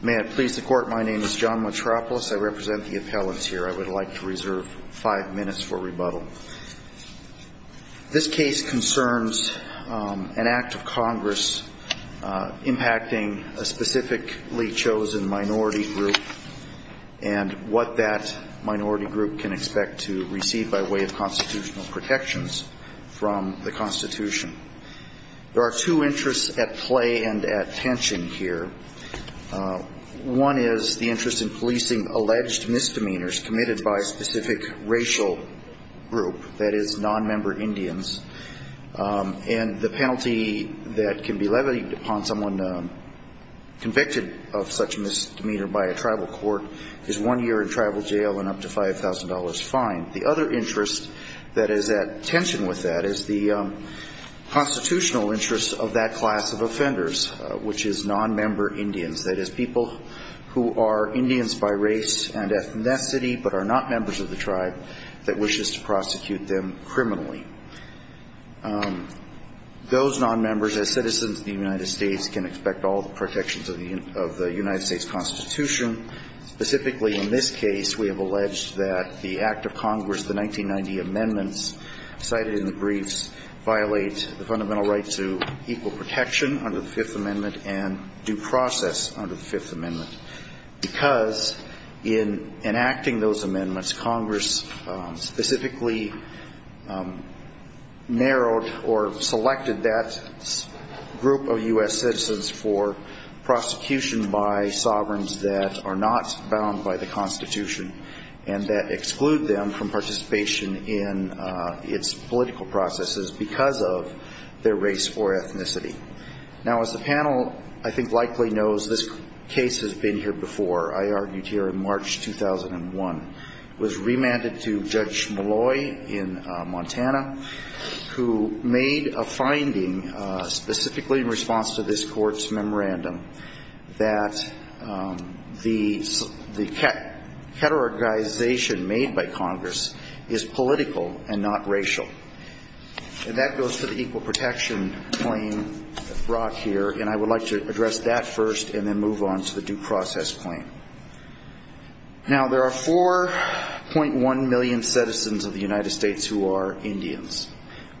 May I please the court? My name is John Matropoulos. I represent the appellants here. I would like to reserve five minutes for rebuttal. This case concerns an act of Congress impacting a specifically chosen minority group and what that minority group can expect to receive by way of constitutional protections from the Constitution. There are two interests at play and at tension here. One is the interest in policing alleged misdemeanors committed by a specific racial group, that is, nonmember Indians. And the penalty that can be levied upon someone convicted of such misdemeanor by a tribal court is one year in tribal jail and up to $5,000 fine. The other interest that is at tension with that is the constitutional interests of that class of offenders, which is nonmember Indians, that is, people who are Indians by race and ethnicity but are not members of the tribe that wishes to prosecute them criminally. Those nonmembers, as citizens of the United States, can expect all the protections of the United States Constitution. Specifically in this case, we have alleged that the act of Congress, the 1990 amendments cited in the briefs, violate the fundamental right to equal protection under the Fifth Amendment and due process under the Fifth Amendment. Because in enacting those amendments, Congress specifically narrowed or selected that group of U.S. citizens for prosecution by sovereigns that are not bound by the Constitution and that exclude them from participation in its political processes because of their race or ethnicity. Now, as the panel, I think, likely knows, this case has been here before. I argued here in March 2001. It was remanded to Judge Malloy in Montana, who made a finding specifically in response to this court's memorandum that the categorization made by Congress is political and not racial. And that goes to the equal protection claim brought here. And I would like to address that first and then move on to the due process claim. Now, there are 4.1 million citizens of the United States who are Indians.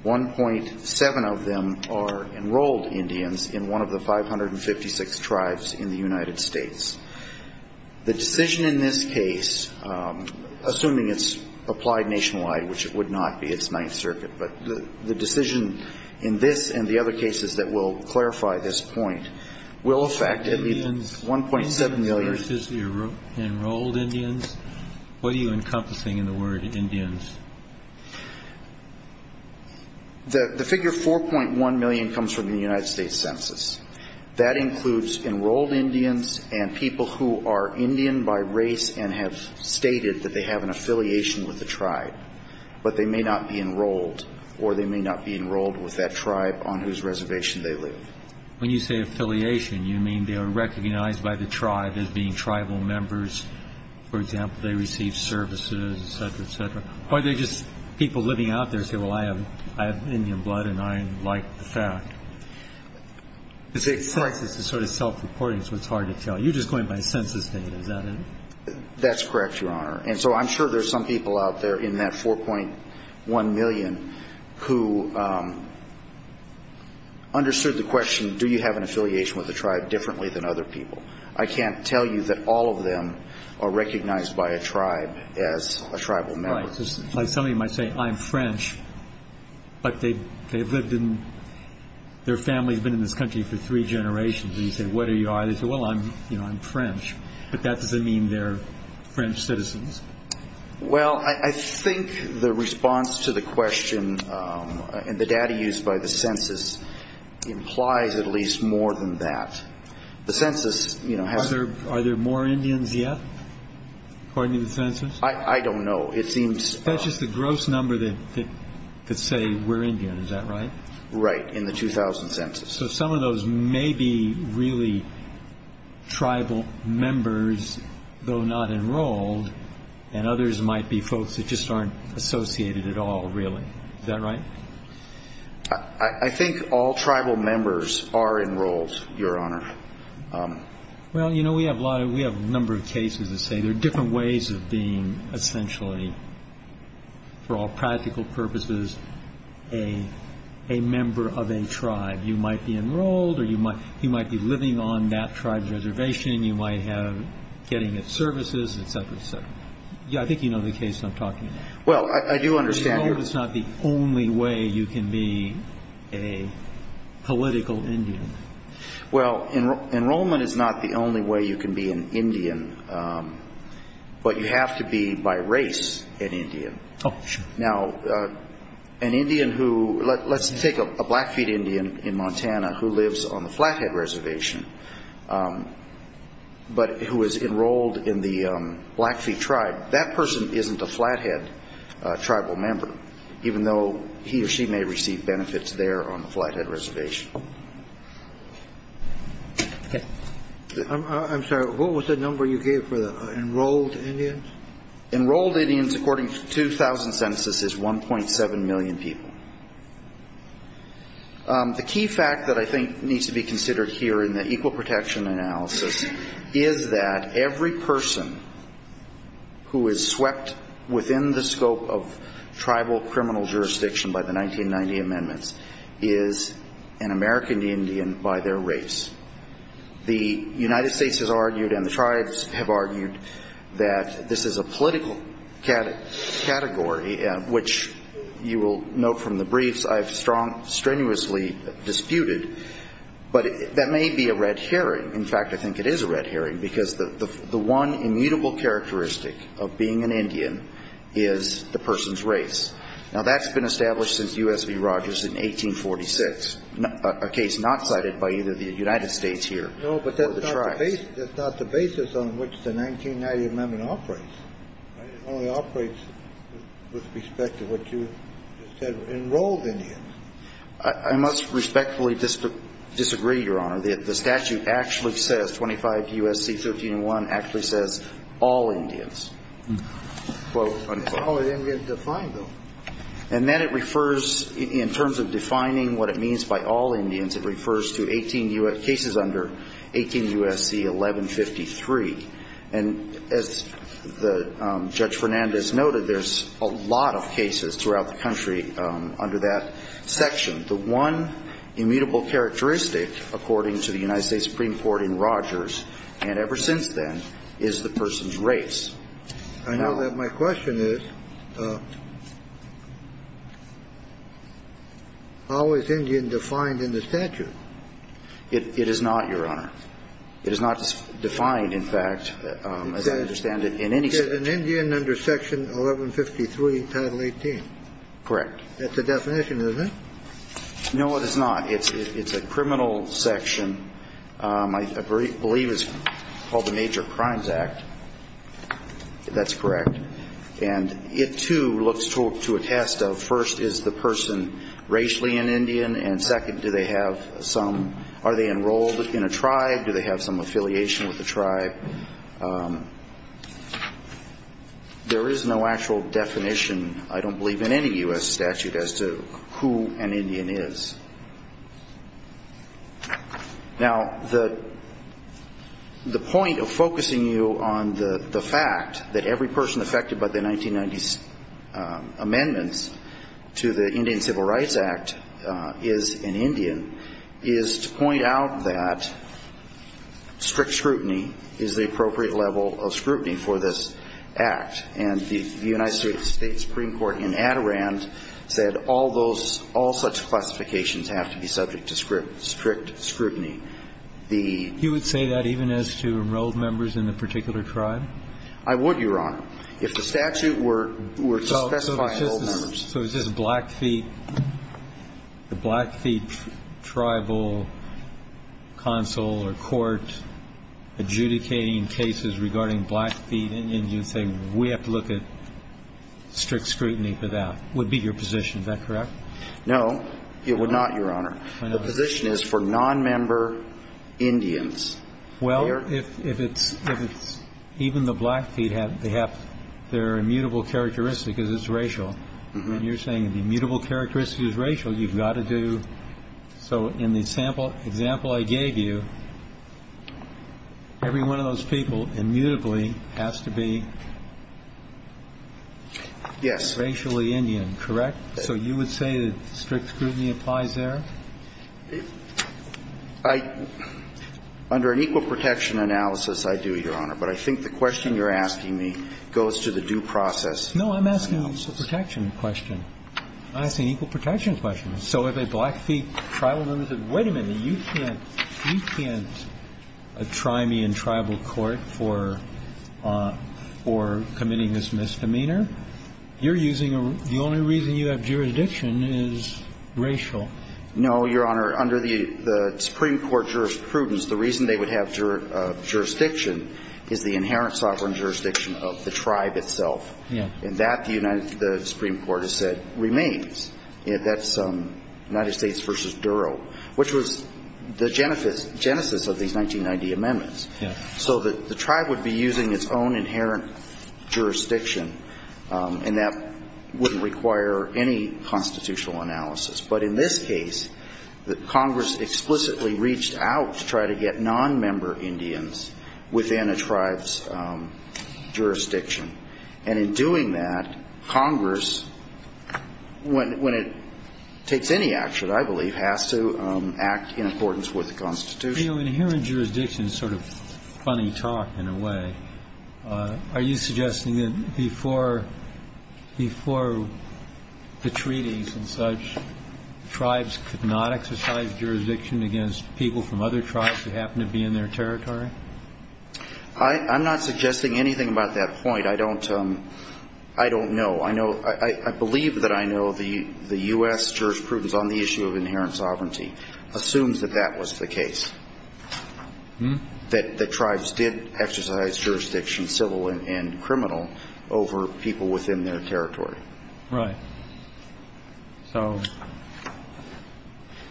1.7 of them are enrolled Indians in one of the 556 tribes in the United States. The decision in this case, assuming it's applied nationwide, which it would not be. It's Ninth Circuit. But the decision in this and the other cases that will clarify this point will affect at least 1.7 million. The figure 4.1 million comes from the United States Census. That includes enrolled Indians and people who are Indian by race and have stated that they have an affiliation with the tribe. But they may not be enrolled or they may not be enrolled with that tribe on whose reservation they live. When you say affiliation, you mean they are recognized by the tribe as being tribal members. For example, they receive services, et cetera, et cetera. Or they're just people living out there who say, well, I have Indian blood and I like the fact. The census is sort of self-reporting, so it's hard to tell. You're just going by census data. Is that it? That's correct, Your Honor. And so I'm sure there's some people out there in that 4.1 million who understood the question, do you have an affiliation with the tribe differently than other people? I can't tell you that all of them are recognized by a tribe as a tribal member. Right. Like somebody might say, I'm French, but they've lived in, their family's been in this country for three generations. And you say, what are you? They say, well, I'm French. But that doesn't mean they're French citizens. Well, I think the response to the question and the data used by the census implies at least more than that. Are there more Indians yet, according to the census? I don't know. That's just a gross number that could say we're Indian, is that right? Right, in the 2000 census. So some of those may be really tribal members, though not enrolled, and others might be folks that just aren't associated at all, really. Is that right? I think all tribal members are enrolled, Your Honor. Well, you know, we have a number of cases that say there are different ways of being essentially, for all practical purposes, a member of a tribe. You might be enrolled or you might be living on that tribe's reservation. You might have getting its services, et cetera, et cetera. I think you know the case I'm talking about. Well, I do understand. But enrollment is not the only way you can be a political Indian. Well, enrollment is not the only way you can be an Indian, but you have to be by race an Indian. Oh, sure. Now, an Indian who, let's take a Blackfeet Indian in Montana who lives on the Flathead Reservation, but who is enrolled in the Blackfeet tribe, that person isn't a Flathead tribal member, even though he or she may receive benefits there on the Flathead Reservation. I'm sorry. What was the number you gave for the enrolled Indians? Enrolled Indians, according to the 2000 census, is 1.7 million people. The key fact that I think needs to be considered here in the Equal Protection Analysis is that every person who is swept within the scope of tribal criminal jurisdiction by the 1990 amendments is an American Indian by their race. The United States has argued and the tribes have argued that this is a political category, which you will note from the briefs I've strenuously disputed. But that may be a red herring. In fact, I think it is a red herring because the one immutable characteristic of being an Indian is the person's race. Now, that's been established since U.S. v. Rogers in 1846, a case not cited by either the United States here or the tribes. No, but that's not the basis on which the 1990 amendment operates. It only operates with respect to what you said, enrolled Indians. I must respectfully disagree, Your Honor. The statute actually says, 25 U.S.C. 1301, actually says all Indians. It's only Indians defined, though. And then it refers, in terms of defining what it means by all Indians, it refers to 18 U.S. Cases under 18 U.S.C. 1153. And as Judge Fernandez noted, there's a lot of cases throughout the country under that section. The one immutable characteristic, according to the United States Supreme Court in Rogers, and ever since then, is the person's race. I know that my question is, how is Indian defined in the statute? It is not, Your Honor. It is not defined, in fact, as I understand it, in any statute. It says an Indian under Section 1153 Title 18. Correct. That's the definition, isn't it? No, it is not. It's a criminal section. I believe it's called the Major Crimes Act. That's correct. And it, too, looks to a test of, first, is the person racially an Indian? And, second, do they have some ñ are they enrolled in a tribe? Do they have some affiliation with the tribe? There is no actual definition, I don't believe, in any U.S. statute as to who an Indian is. Now, the point of focusing you on the fact that every person affected by the 1990 amendments to the Indian Civil Rights Act is an Indian is to point out that strict scrutiny is the appropriate level of scrutiny for this act. And the United States Supreme Court in Adirondack said all such classifications have to be subject to strict scrutiny. You would say that even as to enrolled members in a particular tribe? I would, Your Honor, if the statute were to specify enrolled members. So is this Blackfeet, the Blackfeet Tribal Council or court adjudicating cases regarding Blackfeet Indians, you'd say we have to look at strict scrutiny for that? Would be your position. Is that correct? No, it would not, Your Honor. The position is for nonmember Indians. Well, if it's even the Blackfeet, they have their immutable characteristic is it's racial. When you're saying the immutable characteristic is racial, you've got to do. So in the example I gave you, every one of those people immutably has to be racially Indian, correct? So you would say that strict scrutiny applies there? Under an equal protection analysis, I do, Your Honor. But I think the question you're asking me goes to the due process analysis. No, I'm asking a protection question. I'm asking an equal protection question. So if a Blackfeet tribal member says, wait a minute, you can't try me in tribal court for committing this misdemeanor, you're using the only reason you have jurisdiction is racial. No, Your Honor. Under the Supreme Court jurisprudence, the reason they would have jurisdiction is the inherent sovereign jurisdiction of the tribe itself. And that, the Supreme Court has said, remains. That's United States v. Duro, which was the genesis of these 1990 amendments. So the tribe would be using its own inherent jurisdiction, and that wouldn't require any constitutional analysis. But in this case, Congress explicitly reached out to try to get nonmember Indians within a tribe's jurisdiction. And in doing that, Congress, when it takes any action, I believe, has to act in accordance with the Constitution. Your Honor, inherent jurisdiction is sort of funny talk in a way. Are you suggesting that before the treaties and such, tribes could not exercise jurisdiction against people from other tribes that happen to be in their territory? I'm not suggesting anything about that point. I don't know. I believe that I know the U.S. jurisprudence on the issue of inherent sovereignty assumes that that was the case. That the tribes did exercise jurisdiction, civil and criminal, over people within their territory. Right. So.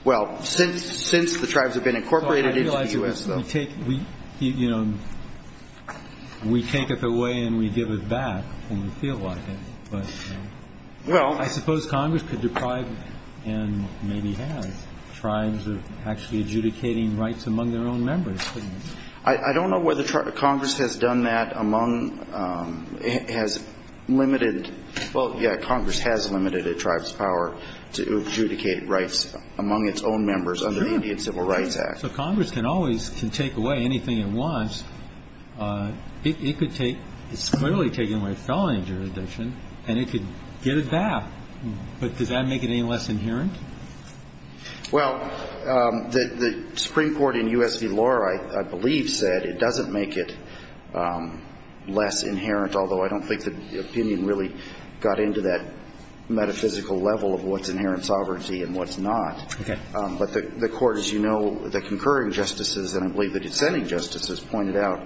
Well, since the tribes have been incorporated into the U.S. We take it away and we give it back when we feel like it. But I suppose Congress could deprive and maybe have tribes actually adjudicating rights among their own members. I don't know whether Congress has done that among, has limited, well, yeah, Congress has limited a tribe's power to adjudicate rights among its own members under the Indian Civil Rights Act. So Congress can always, can take away anything it wants. It could take, it's clearly taking away felony jurisdiction, and it could get it back. But does that make it any less inherent? Well, the Supreme Court in U.S. v. Lohr, I believe, said it doesn't make it less inherent, although I don't think the opinion really got into that metaphysical level of what's inherent sovereignty and what's not. Okay. But the Court, as you know, the concurring justices, and I believe the dissenting justices, pointed out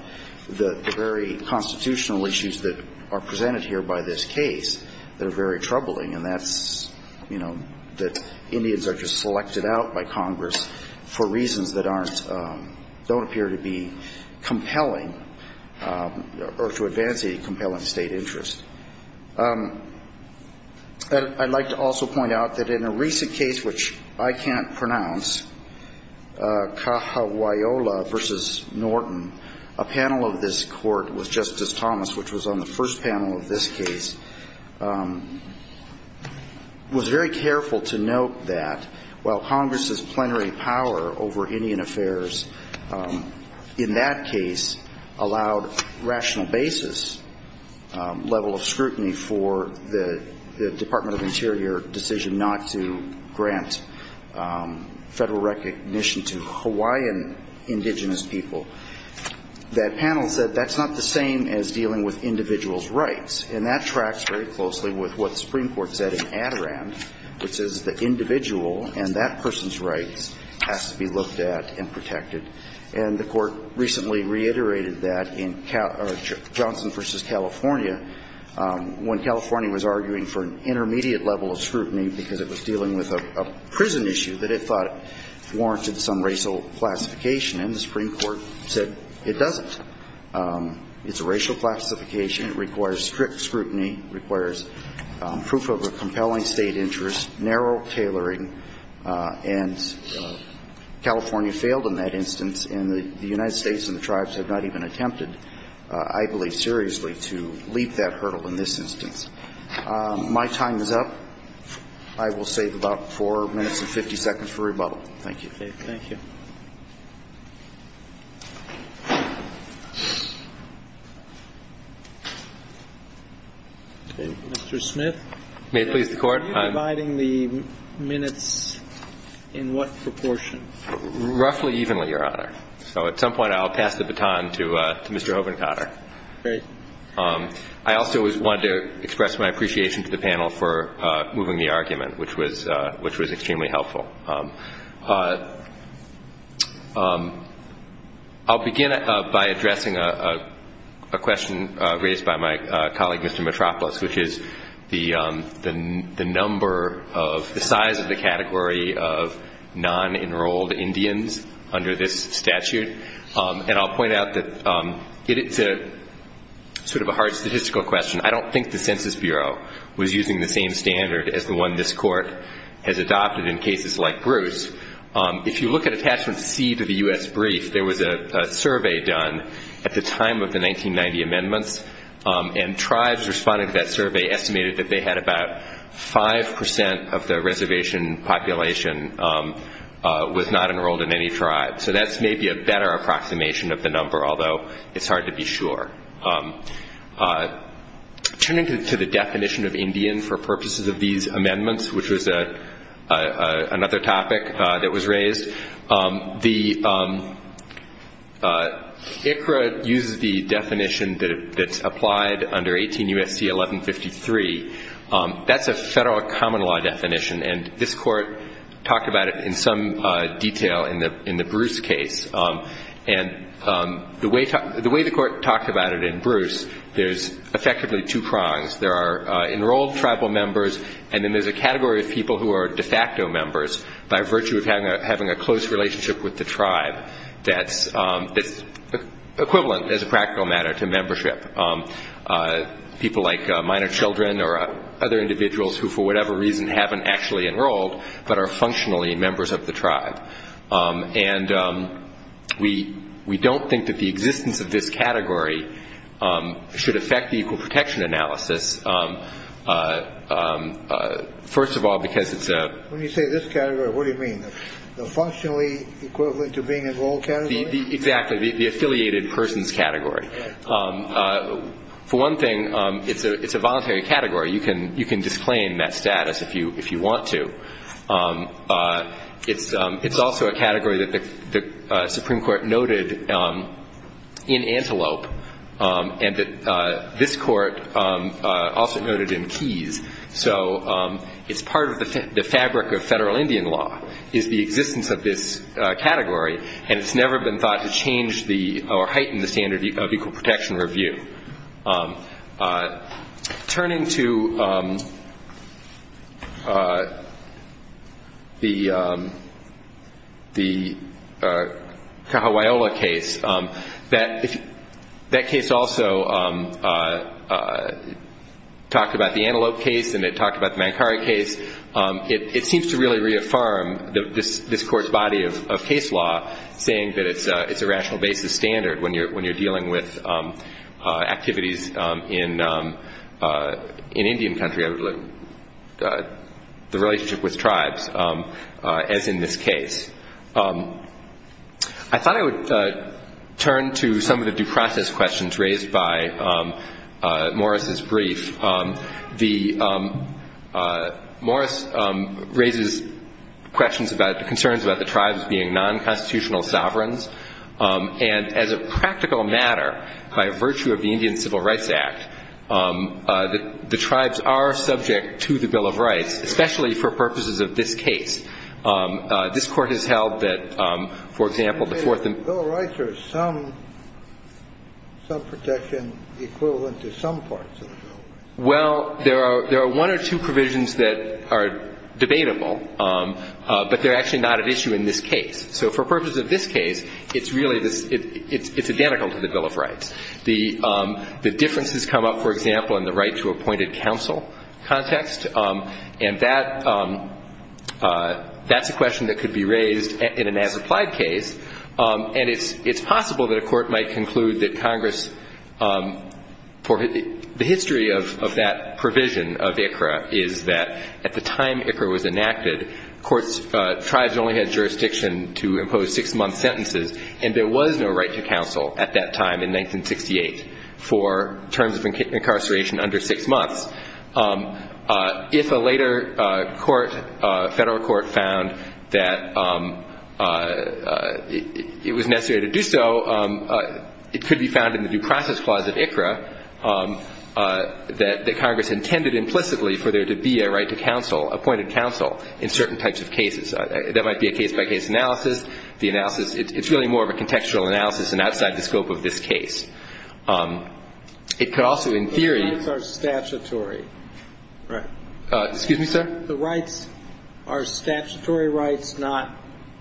the very constitutional issues that are presented here by this case that are very troubling. And that's, you know, that Indians are just selected out by Congress for reasons that aren't, don't appear to be compelling or to advance a compelling state interest. I'd like to also point out that in a recent case, which I can't pronounce, Cajahuala v. Norton, a panel of this Court with Justice Thomas, which was on the first panel of this case, was very careful to note that while Congress's plenary power over Indian affairs in that case allowed rational basis, level of scrutiny for the Department of Interior decision not to grant federal recognition to Hawaiian indigenous people, that panel said that's not the same as dealing with individuals' rights. And that tracks very closely with what the Supreme Court said in Adirondack, which is the individual and that person's rights has to be looked at and protected. And the Court recently reiterated that in Johnson v. California, when California was arguing for an intermediate level of scrutiny because it was dealing with a prison issue that it thought warranted some racial classification, and the Supreme Court said it doesn't. It's a racial classification. It requires strict scrutiny, requires proof of a compelling state interest, narrow tailoring, and California failed in that instance. And the United States and the tribes have not even attempted, I believe, seriously, to leap that hurdle in this instance. My time is up. I will save about 4 minutes and 50 seconds for rebuttal. Thank you. Mr. Smith. May it please the Court. Are you dividing the minutes in what proportion? Roughly evenly, Your Honor. So at some point I'll pass the baton to Mr. Hovenkater. Great. I also wanted to express my appreciation to the panel for moving the argument, which was extremely helpful. I'll begin by addressing a question raised by my colleague, Mr. Mitropoulos, which is the number of, the size of the category of non-enrolled Indians under this statute. And I'll point out that it's sort of a hard statistical question. I don't think the Census Bureau was using the same standard as the one this Court has adopted in cases like this. If you look at Attachment C to the U.S. Brief, there was a survey done at the time of the 1990 amendments, and tribes responding to that survey estimated that they had about 5 percent of the reservation population was not enrolled in any tribe. So that's maybe a better approximation of the number, although it's hard to be sure. Turning to the definition of Indian for purposes of these amendments, which was another topic that was raised, the ICRA uses the definition that's applied under 18 U.S.C. 1153. That's a federal common law definition, and this Court talked about it in some detail in the Bruce case. And the way the Court talked about it in Bruce, there's effectively two prongs. There are enrolled tribal members, and then there's a category of people who are de facto members by virtue of having a close relationship with the tribe that's equivalent as a practical matter to membership. People like minor children or other individuals who for whatever reason haven't actually enrolled but are functionally members of the tribe. And we don't think that the existence of this category should affect the equal protection analysis. First of all, because it's a... When you say this category, what do you mean? The functionally equivalent to being enrolled category? Exactly. The affiliated persons category. For one thing, it's a voluntary category. You can disclaim that status if you want to. It's also a category that the Supreme Court noted in Antelope, and that this Court also noted in Keyes. So it's part of the fabric of federal Indian law is the existence of this category, and it's never been thought to change or heighten the standard of equal protection review. Turning to the Kahawaiola case, that case also talked about the Antelope case and it talked about the Mankari case. It seems to really reaffirm this Court's body of case law, saying that it's a rational basis standard when you're dealing with activities in Indian country, the relationship with tribes, as in this case. I thought I would turn to some of the due process questions raised by Morris' brief. Morris raises concerns about the tribes being non-constitutional sovereigns, and as a practical matter, by virtue of the Indian Civil Rights Act, the tribes are subject to the Bill of Rights, especially for purposes of this case. This Court has held that, for example, the Fourth and Fifth Amendment Well, there are one or two provisions that are debatable, but they're actually not at issue in this case. So for purposes of this case, it's identical to the Bill of Rights. The differences come up, for example, in the right to appointed counsel context, and that's a question that could be raised in an as-applied case, and it's possible that a court might conclude that Congress, the history of that provision of ICRA is that at the time ICRA was enacted, tribes only had jurisdiction to impose six-month sentences, and there was no right to counsel at that time in 1968 for terms of incarceration under six months. If a later court, federal court, found that it was necessary to do so, it could be found in the Due Process Clause of ICRA that Congress intended implicitly for there to be a right to counsel, appointed counsel, in certain types of cases. That might be a case-by-case analysis. The analysis, it's really more of a contextual analysis and outside the scope of this case. It could also, in theory The rights are statutory, right? Excuse me, sir? The rights are statutory rights, not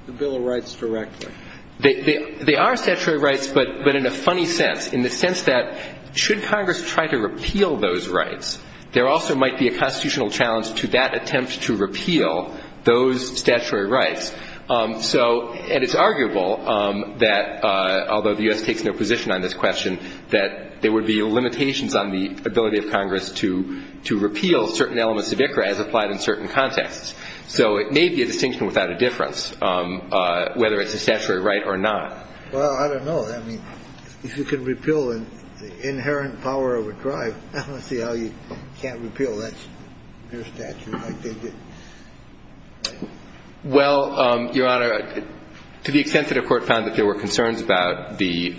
the Bill of Rights directly. They are statutory rights, but in a funny sense, in the sense that should Congress try to repeal those rights, there also might be a constitutional challenge to that attempt to repeal those statutory rights. So, and it's arguable that, although the U.S. takes no position on this question, that there would be limitations on the ability of Congress to repeal certain elements of ICRA as applied in certain contexts. So it may be a distinction without a difference, whether it's a statutory right or not. Well, I don't know. I mean, if you can repeal the inherent power of a drive, I don't see how you can't repeal it. That's your statute, I think. Well, Your Honor, to the extent that a court found that there were concerns about the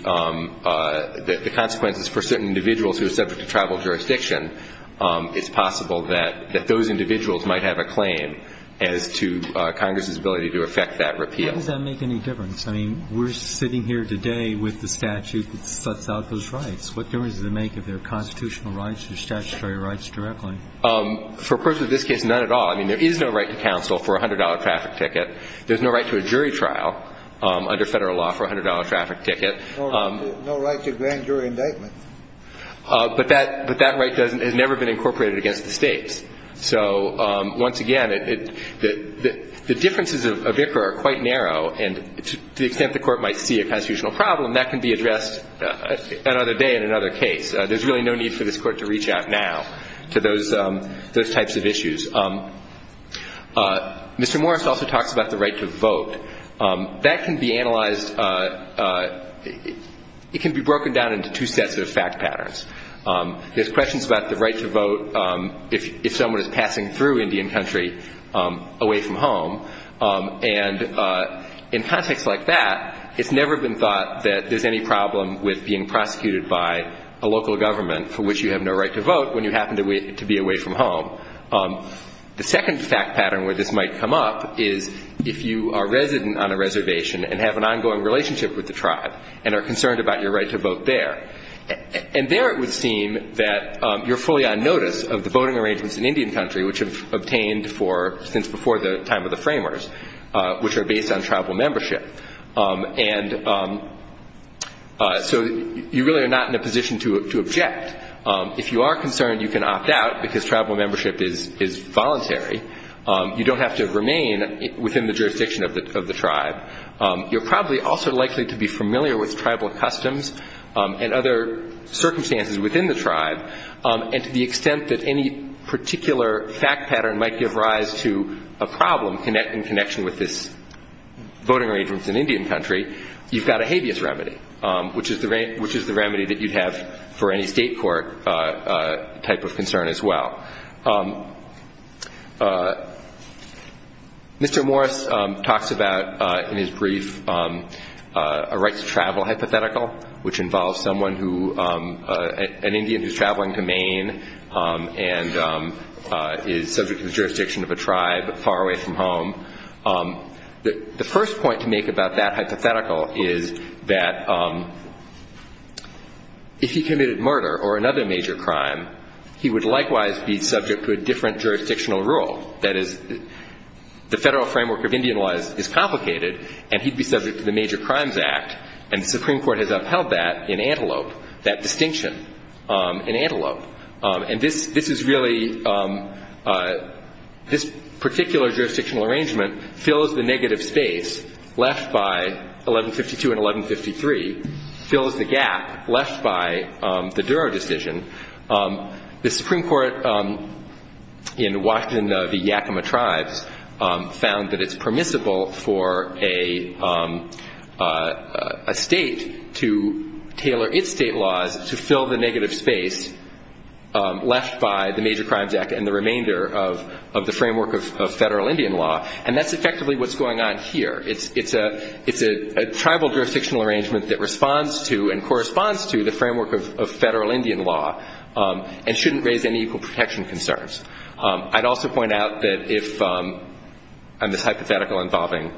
consequences for certain individuals who are subject to tribal jurisdiction, it's possible that those individuals might have a claim as to Congress's ability to effect that repeal. How does that make any difference? I mean, we're sitting here today with the statute that sets out those rights. What difference does it make if they're constitutional rights or statutory rights directly? For a person in this case, none at all. I mean, there is no right to counsel for a $100 traffic ticket. There's no right to a jury trial under federal law for a $100 traffic ticket. No right to a grand jury indictment. But that right has never been incorporated against the States. So, once again, the differences of ICRA are quite narrow. And to the extent the Court might see a constitutional problem, that can be addressed another day in another case. There's really no need for this Court to reach out now to those types of issues. Mr. Morris also talks about the right to vote. That can be analyzed. It can be broken down into two sets of fact patterns. There's questions about the right to vote if someone is passing through Indian Country away from home. And in contexts like that, it's never been thought that there's any problem with being prosecuted by a local government for which you have no right to vote when you happen to be away from home. The second fact pattern where this might come up is if you are resident on a reservation and have an ongoing relationship with the tribe and are concerned about your right to vote there. And there it would seem that you're fully on notice of the voting arrangements in Indian Country, which have obtained since before the time of the framers, which are based on tribal membership. And so you really are not in a position to object. If you are concerned, you can opt out because tribal membership is voluntary. You don't have to remain within the jurisdiction of the tribe. You're probably also likely to be familiar with tribal customs and other circumstances within the tribe. And to the extent that any particular fact pattern might give rise to a problem in connection with this voting arrangements in Indian Country, you've got a habeas remedy, which is the remedy that you'd have for any state court type of concern as well. Mr. Morris talks about in his brief a right to travel hypothetical, which involves an Indian who's traveling to Maine and is subject to the jurisdiction of a tribe far away from home. The first point to make about that hypothetical is that if he committed murder or another major crime, he would likewise be subject to a different jurisdictional rule. That is, the federal framework of Indian law is complicated, and he'd be subject to the Major Crimes Act, and the Supreme Court has upheld that in antelope, that distinction in antelope. And this is really this particular jurisdictional arrangement fills the negative space left by 1152 and 1153, fills the gap left by the Duro decision. The Supreme Court in Washington of the Yakima tribes found that it's permissible for a state to tailor its state laws to fill the negative space left by the Major Crimes Act and the remainder of the framework of federal Indian law, and that's effectively what's going on here. It's a tribal jurisdictional arrangement that responds to and corresponds to the framework of federal Indian law and shouldn't raise any equal protection concerns. I'd also point out that if, on this hypothetical involving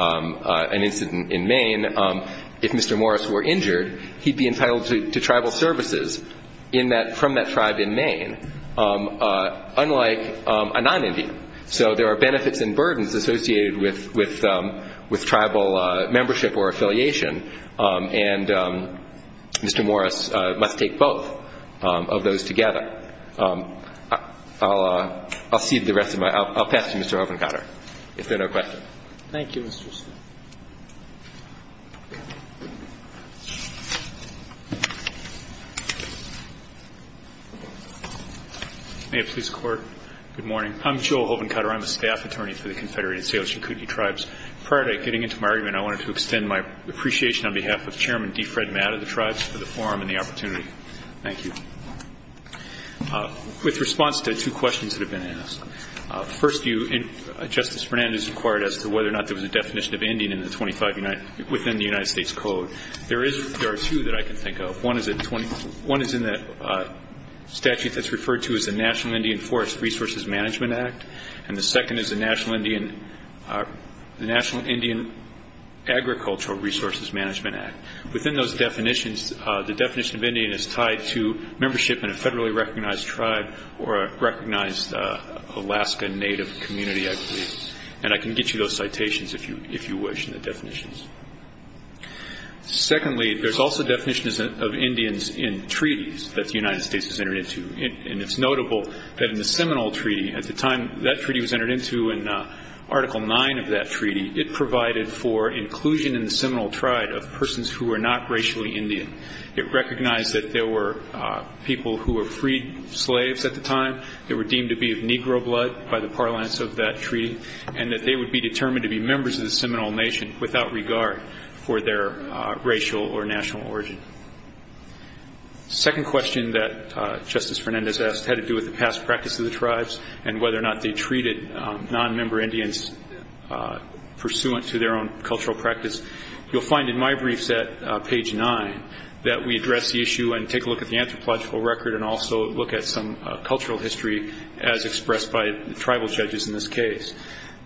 an incident in Maine, if Mr. Morris were injured, he'd be entitled to tribal services in that, from that tribe in Maine, unlike a non-Indian. So there are benefits and burdens associated with tribal membership or affiliation, and Mr. Morris must take both of those together. I'll cede the rest of my, I'll pass to Mr. Hovenkater, if there are no questions. Thank you, Mr. Smith. May it please the Court. Good morning. I'm Joel Hovenkater. I'm a staff attorney for the Confederated Salish and Kootenai tribes. Prior to getting into my argument, I wanted to extend my appreciation on behalf of Chairman D. Fred Matt of the tribes for the forum and the opportunity. Thank you. With response to two questions that have been asked. First, Justice Fernandez inquired as to whether or not there was a definition of Indian within the United States Code. There are two that I can think of. One is in the statute that's referred to as the National Indian Forest Resources Management Act, and the second is the National Indian Agricultural Resources Management Act. Within those definitions, the definition of Indian is tied to membership in a federally recognized tribe or a recognized Alaska Native community, I believe. And I can get you those citations, if you wish, in the definitions. Secondly, there's also definitions of Indians in treaties that the United States has entered into. And it's notable that in the Seminole Treaty, at the time that treaty was entered into, in Article 9 of that treaty, it provided for inclusion in the Seminole tribe of persons who were not racially Indian. It recognized that there were people who were freed slaves at the time. They were deemed to be of Negro blood by the parlance of that treaty, and that they would be determined to be members of the Seminole Nation without regard for their racial or national origin. The second question that Justice Fernandez asked had to do with the past practice of the tribes and whether or not they treated nonmember Indians pursuant to their own cultural practice. You'll find in my briefs at page 9 that we address the issue and take a look at the anthropological record and also look at some cultural history as expressed by tribal judges in this case.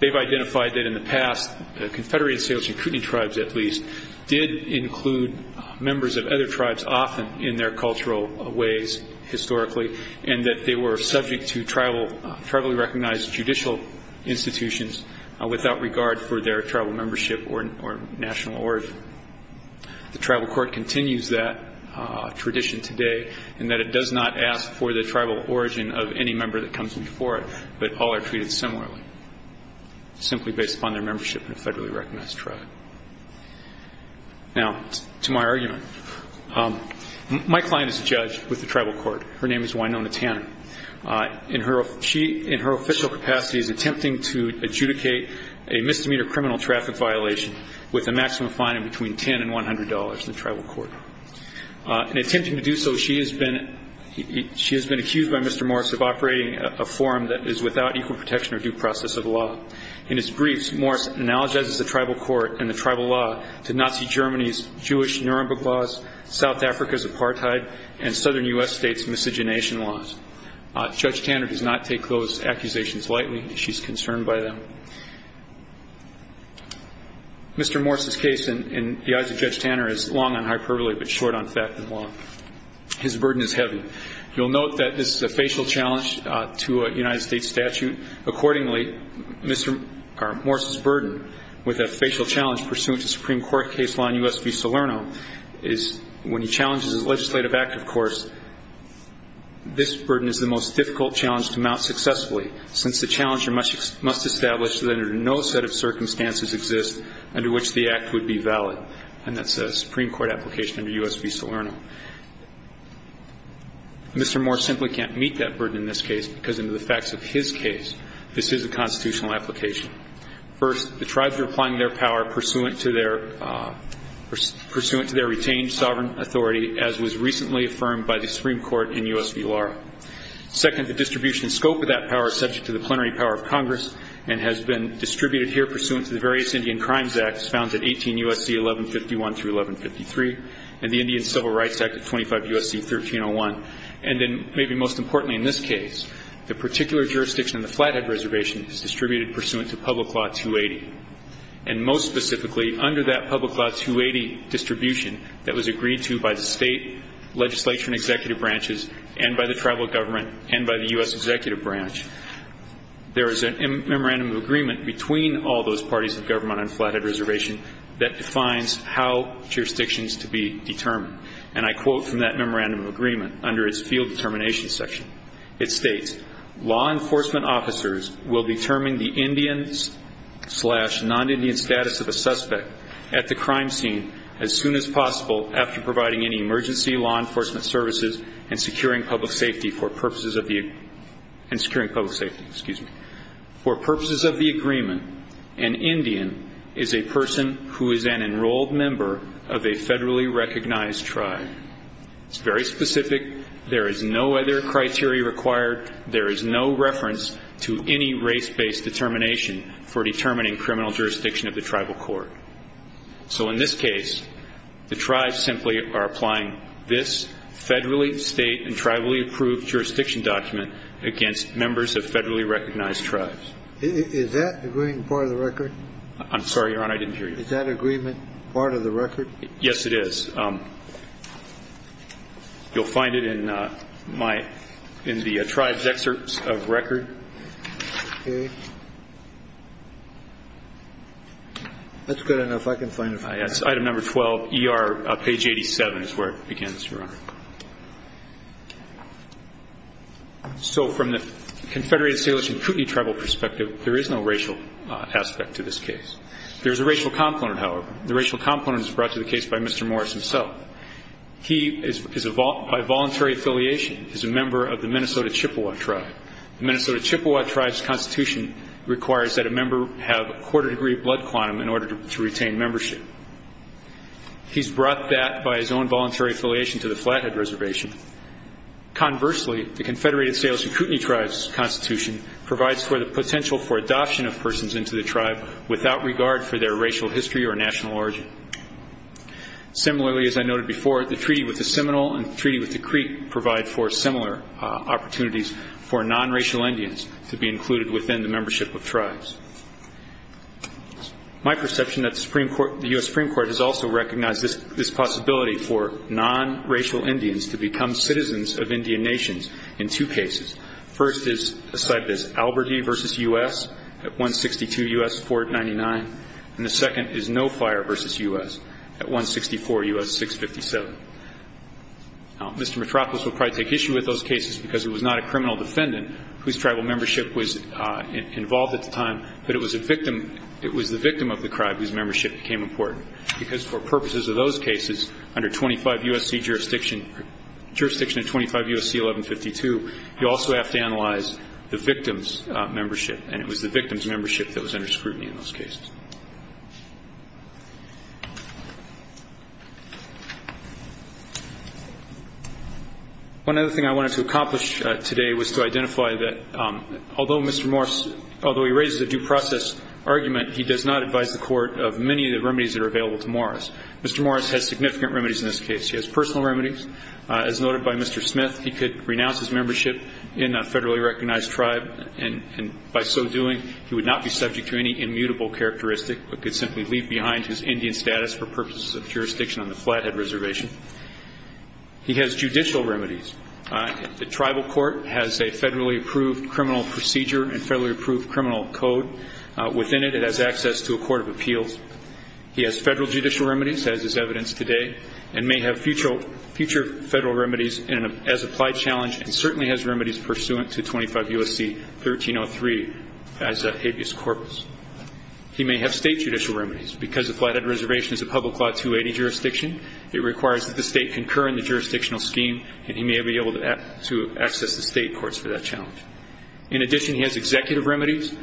They've identified that in the past, the Confederated Salish and Kootenai tribes, at least, did include members of other tribes often in their cultural ways historically, and that they were subject to tribally recognized judicial institutions without regard for their tribal membership or national origin. The tribal court continues that tradition today in that it does not ask for the tribal origin of any member that comes before it, but all are treated similarly, simply based upon their membership in a federally recognized tribe. Now, to my argument, my client is a judge with the tribal court. Her name is Wynonna Tanner. In her official capacity, she's attempting to adjudicate a misdemeanor criminal traffic violation with a maximum fine of between $10 and $100 in the tribal court. In attempting to do so, she has been accused by Mr. Morris of operating a forum that is without equal protection or due process of law. In his briefs, Morris analogizes the tribal court and the tribal law to Nazi Germany's Jewish Nuremberg laws, South Africa's apartheid, and southern U.S. state's miscegenation laws. Judge Tanner does not take those accusations lightly. She's concerned by them. Mr. Morris's case, in the eyes of Judge Tanner, is long on hyperbole but short on fact and law. His burden is heavy. You'll note that this is a facial challenge to a United States statute. Accordingly, Morris's burden with a facial challenge pursuant to Supreme Court case law in U.S. v. Salerno is when he challenges his legislative act, of course, this burden is the most difficult challenge to mount successfully since the challenger must establish that under no set of circumstances exists under which the act would be valid. And that's a Supreme Court application under U.S. v. Salerno. Mr. Morris simply can't meet that burden in this case because under the facts of his case, this is a constitutional application. First, the tribes are applying their power pursuant to their retained sovereign authority as was recently affirmed by the Supreme Court in U.S. v. Lara. Second, the distribution scope of that power is subject to the plenary power of Congress and has been distributed here pursuant to the various Indian Crimes Acts found in 18 U.S.C. 1151 through 1153 and the Indian Civil Rights Act of 25 U.S.C. 1301. And then maybe most importantly in this case, the particular jurisdiction in the Flathead Reservation is distributed pursuant to Public Law 280. And most specifically, under that Public Law 280 distribution that was agreed to by the state legislature and executive branches and by the tribal government and by the U.S. executive branch, there is a memorandum of agreement between all those parties of government on Flathead Reservation that defines how jurisdictions to be determined. And I quote from that memorandum of agreement under its field determination section. It states, law enforcement officers will determine the Indian slash non-Indian status of a suspect at the crime scene as soon as possible after providing any emergency law enforcement services and securing public safety for purposes of the agreement. For purposes of the agreement, an Indian is a person who is an enrolled member of a federally recognized tribe. It's very specific. There is no other criteria required. There is no reference to any race-based determination for determining criminal jurisdiction of the tribal court. So in this case, the tribes simply are applying this federally state and tribally approved jurisdiction document against members of federally recognized tribes. Is that agreement part of the record? I'm sorry, Your Honor. I didn't hear you. Is that agreement part of the record? Yes, it is. You'll find it in my, in the tribe's excerpts of record. Okay. That's good enough. I can find it. Item number 12, ER, page 87 is where it begins, Your Honor. So from the Confederated Salish and Kootenai tribal perspective, there is no racial aspect to this case. There is a racial component, however. The racial component is brought to the case by Mr. Morris himself. He, by voluntary affiliation, is a member of the Minnesota Chippewa tribe. The Minnesota Chippewa tribe's constitution requires that a member have a quarter degree of blood quantum in order to retain membership. He's brought that by his own voluntary affiliation to the Flathead Reservation. Conversely, the Confederated Salish and Kootenai tribe's constitution provides for the potential for adoption of persons into the tribe without regard for their racial history or national origin. Similarly, as I noted before, the treaty with the Seminole and the treaty with the Creek provide for similar opportunities for nonracial Indians to be included within the membership of tribes. My perception that the Supreme Court, the U.S. Supreme Court, has also recognized this possibility for nonracial Indians to become citizens of Indian nations in two cases. The first is cited as Alberti v. U.S. at 162 U.S. 499, and the second is No Fire v. U.S. at 164 U.S. 657. Mr. Mitropoulos will probably take issue with those cases because he was not a criminal defendant whose tribal membership was involved at the time, but it was the victim of the tribe whose membership became important because for purposes of those cases, under 25 U.S.C. jurisdiction and 25 U.S.C. 1152, you also have to analyze the victim's membership, and it was the victim's membership that was under scrutiny in those cases. One other thing I wanted to accomplish today was to identify that although Mr. Morris, although he raises a due process argument, he does not advise the court of many of the remedies that are available to Morris. Mr. Morris has significant remedies in this case. He has personal remedies. As noted by Mr. Smith, he could renounce his membership in a federally recognized tribe, and by so doing he would not be subject to any immutable characteristic but could simply leave behind his Indian status for purposes of jurisdiction on the Flathead Reservation. He has judicial remedies. The tribal court has a federally approved criminal procedure and federally approved criminal code. Within it, it has access to a court of appeals. He has federal judicial remedies, as is evidenced today, and may have future federal remedies as applied challenge and certainly has remedies pursuant to 25 U.S.C. 1303 as habeas corpus. He may have state judicial remedies. Because the Flathead Reservation is a public law 280 jurisdiction, it requires that the state concur in the jurisdictional scheme, and he may be able to access the state courts for that challenge. In addition, he has executive remedies.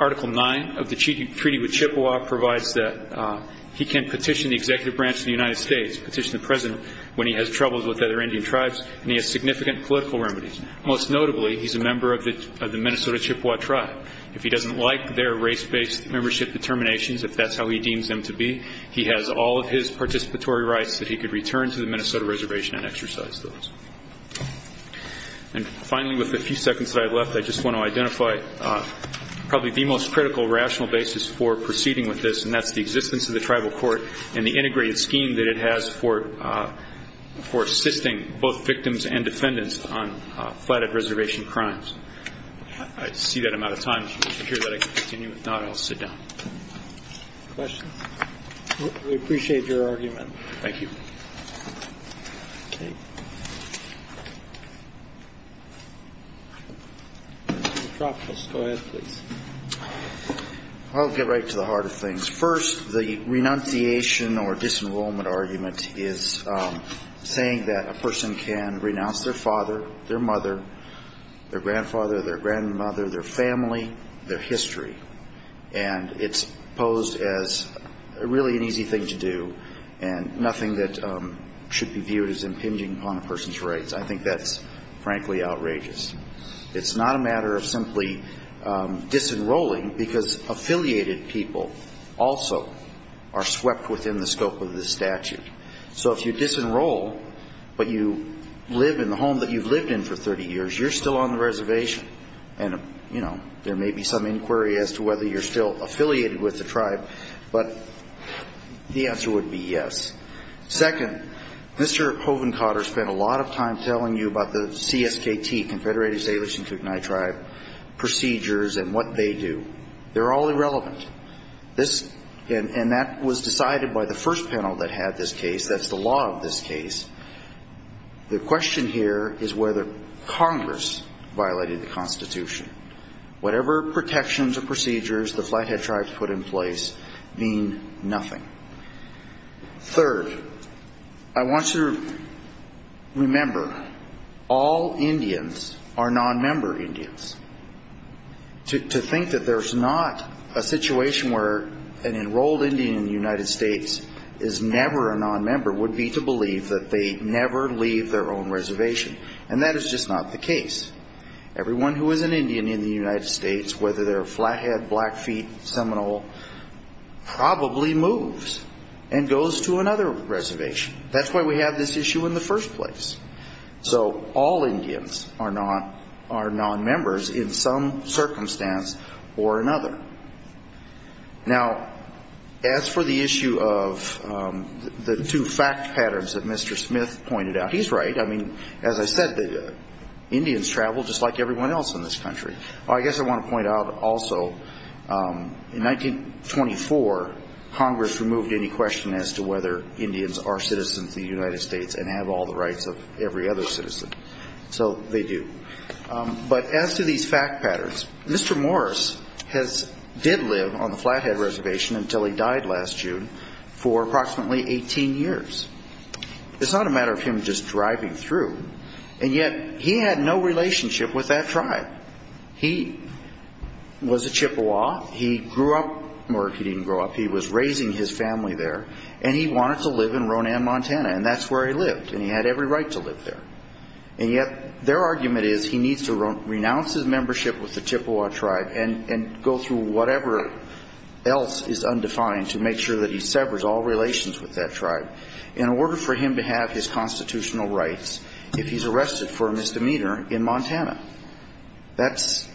Article 9 of the Treaty with Chippewa provides that he can petition the executive branch of the United States, petition the president when he has troubles with other Indian tribes, and he has significant political remedies. Most notably, he's a member of the Minnesota Chippewa tribe. If he doesn't like their race-based membership determinations, if that's how he deems them to be, he has all of his participatory rights that he could return to the Minnesota Reservation and exercise those. And finally, with the few seconds that I have left, I just want to identify probably the most critical rational basis for proceeding with this, and that's the existence of the tribal court and the integrated scheme that it has for assisting both victims and defendants on Flathead Reservation crimes. I see that I'm out of time. If you hear that, I can continue. If not, I'll sit down. Questions? We appreciate your argument. Thank you. Okay. Dr. Dropos, go ahead, please. I'll get right to the heart of things. First, the renunciation or disenrollment argument is saying that a person can renounce their father, their mother, their grandfather, their grandmother, their family, their history. And it's posed as really an easy thing to do and nothing that should be viewed as impinging upon a person's rights. I think that's, frankly, outrageous. It's not a matter of simply disenrolling because affiliated people also are swept within the scope of this statute. So if you disenroll but you live in the home that you've lived in for 30 years, you're still on the reservation. And, you know, there may be some inquiry as to whether you're still affiliated with the tribe, but the answer would be yes. Second, Mr. Hovenkater spent a lot of time telling you about the CSKT, Confederated Salish and Kootenai Tribe, procedures and what they do. They're all irrelevant. And that was decided by the first panel that had this case. That's the law of this case. The question here is whether Congress violated the Constitution. Whatever protections or procedures the Flathead Tribes put in place mean nothing. Third, I want you to remember all Indians are nonmember Indians. To think that there's not a situation where an enrolled Indian in the United States is never a nonmember would be to believe that they never leave their own reservation. And that is just not the case. Everyone who is an Indian in the United States, whether they're Flathead, Blackfeet, Seminole, probably moves and goes to another reservation. That's why we have this issue in the first place. So all Indians are nonmembers in some circumstance or another. Now, as for the issue of the two fact patterns that Mr. Smith pointed out, he's right. I mean, as I said, Indians travel just like everyone else in this country. I guess I want to point out also, in 1924, Congress removed any question as to whether Indians are citizens of the United States and have all the rights of every other citizen. So they do. But as to these fact patterns, Mr. Morris did live on the Flathead Reservation until he died last June for approximately 18 years. It's not a matter of him just driving through. And yet he had no relationship with that tribe. He was a Chippewa. He grew up or he didn't grow up. He was raising his family there. And he wanted to live in Ronan, Montana. And that's where he lived. And he had every right to live there. And yet their argument is he needs to renounce his membership with the Chippewa tribe and go through whatever else is undefined to make sure that he severs all relations with that tribe in order for him to have his constitutional rights if he's arrested for a misdemeanor in Montana. That's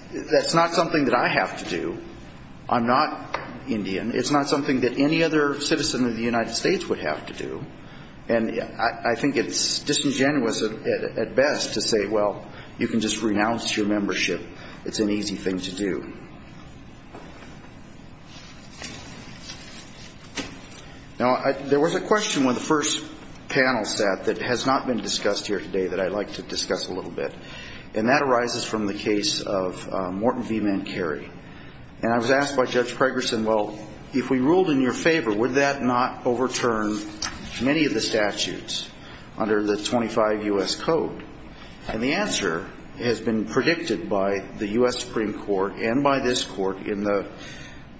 not something that I have to do. I'm not Indian. It's not something that any other citizen of the United States would have to do. And I think it's disingenuous at best to say, well, you can just renounce your membership. It's an easy thing to do. Now, there was a question when the first panel sat that has not been discussed here today that I'd like to discuss a little bit. And that arises from the case of Morton, Veema, and Carey. And I was asked by Judge Pregerson, well, if we ruled in your favor, would that not overturn many of the statutes under the 25 U.S. Code? And the answer has been predicted by the U.S. Supreme Court and by this court in the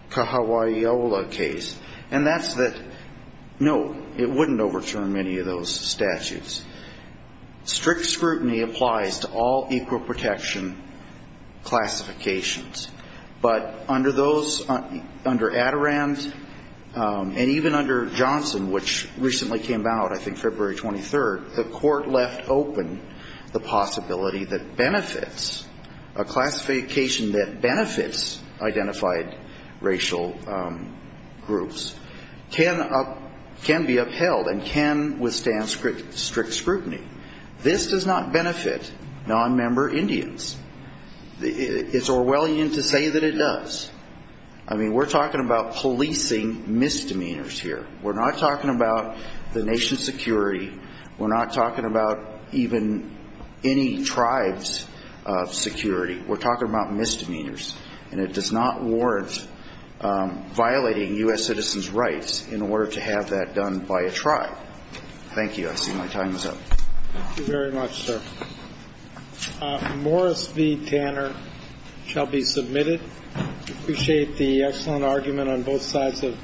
Kahawaiola case. And that's that, no, it wouldn't overturn many of those statutes. Strict scrutiny applies to all equal protection classifications. But under those, under Adirond and even under Johnson, which recently came out, I think February 23rd, the court left open the possibility that benefits, a classification that benefits identified racial groups, can be upheld and can withstand strict scrutiny. This does not benefit nonmember Indians. It's Orwellian to say that it does. I mean, we're talking about policing misdemeanors here. We're not talking about the nation's security. We're not talking about even any tribe's security. We're talking about misdemeanors. And it does not warrant violating U.S. citizens' rights in order to have that done by a tribe. Thank you. I see my time is up. Thank you very much, sir. Morris v. Tanner shall be submitted. Appreciate the excellent argument on both sides of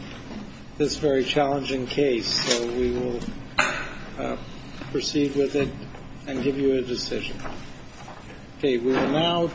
this very challenging case. So we will proceed with it and give you a decision. Okay. We will now.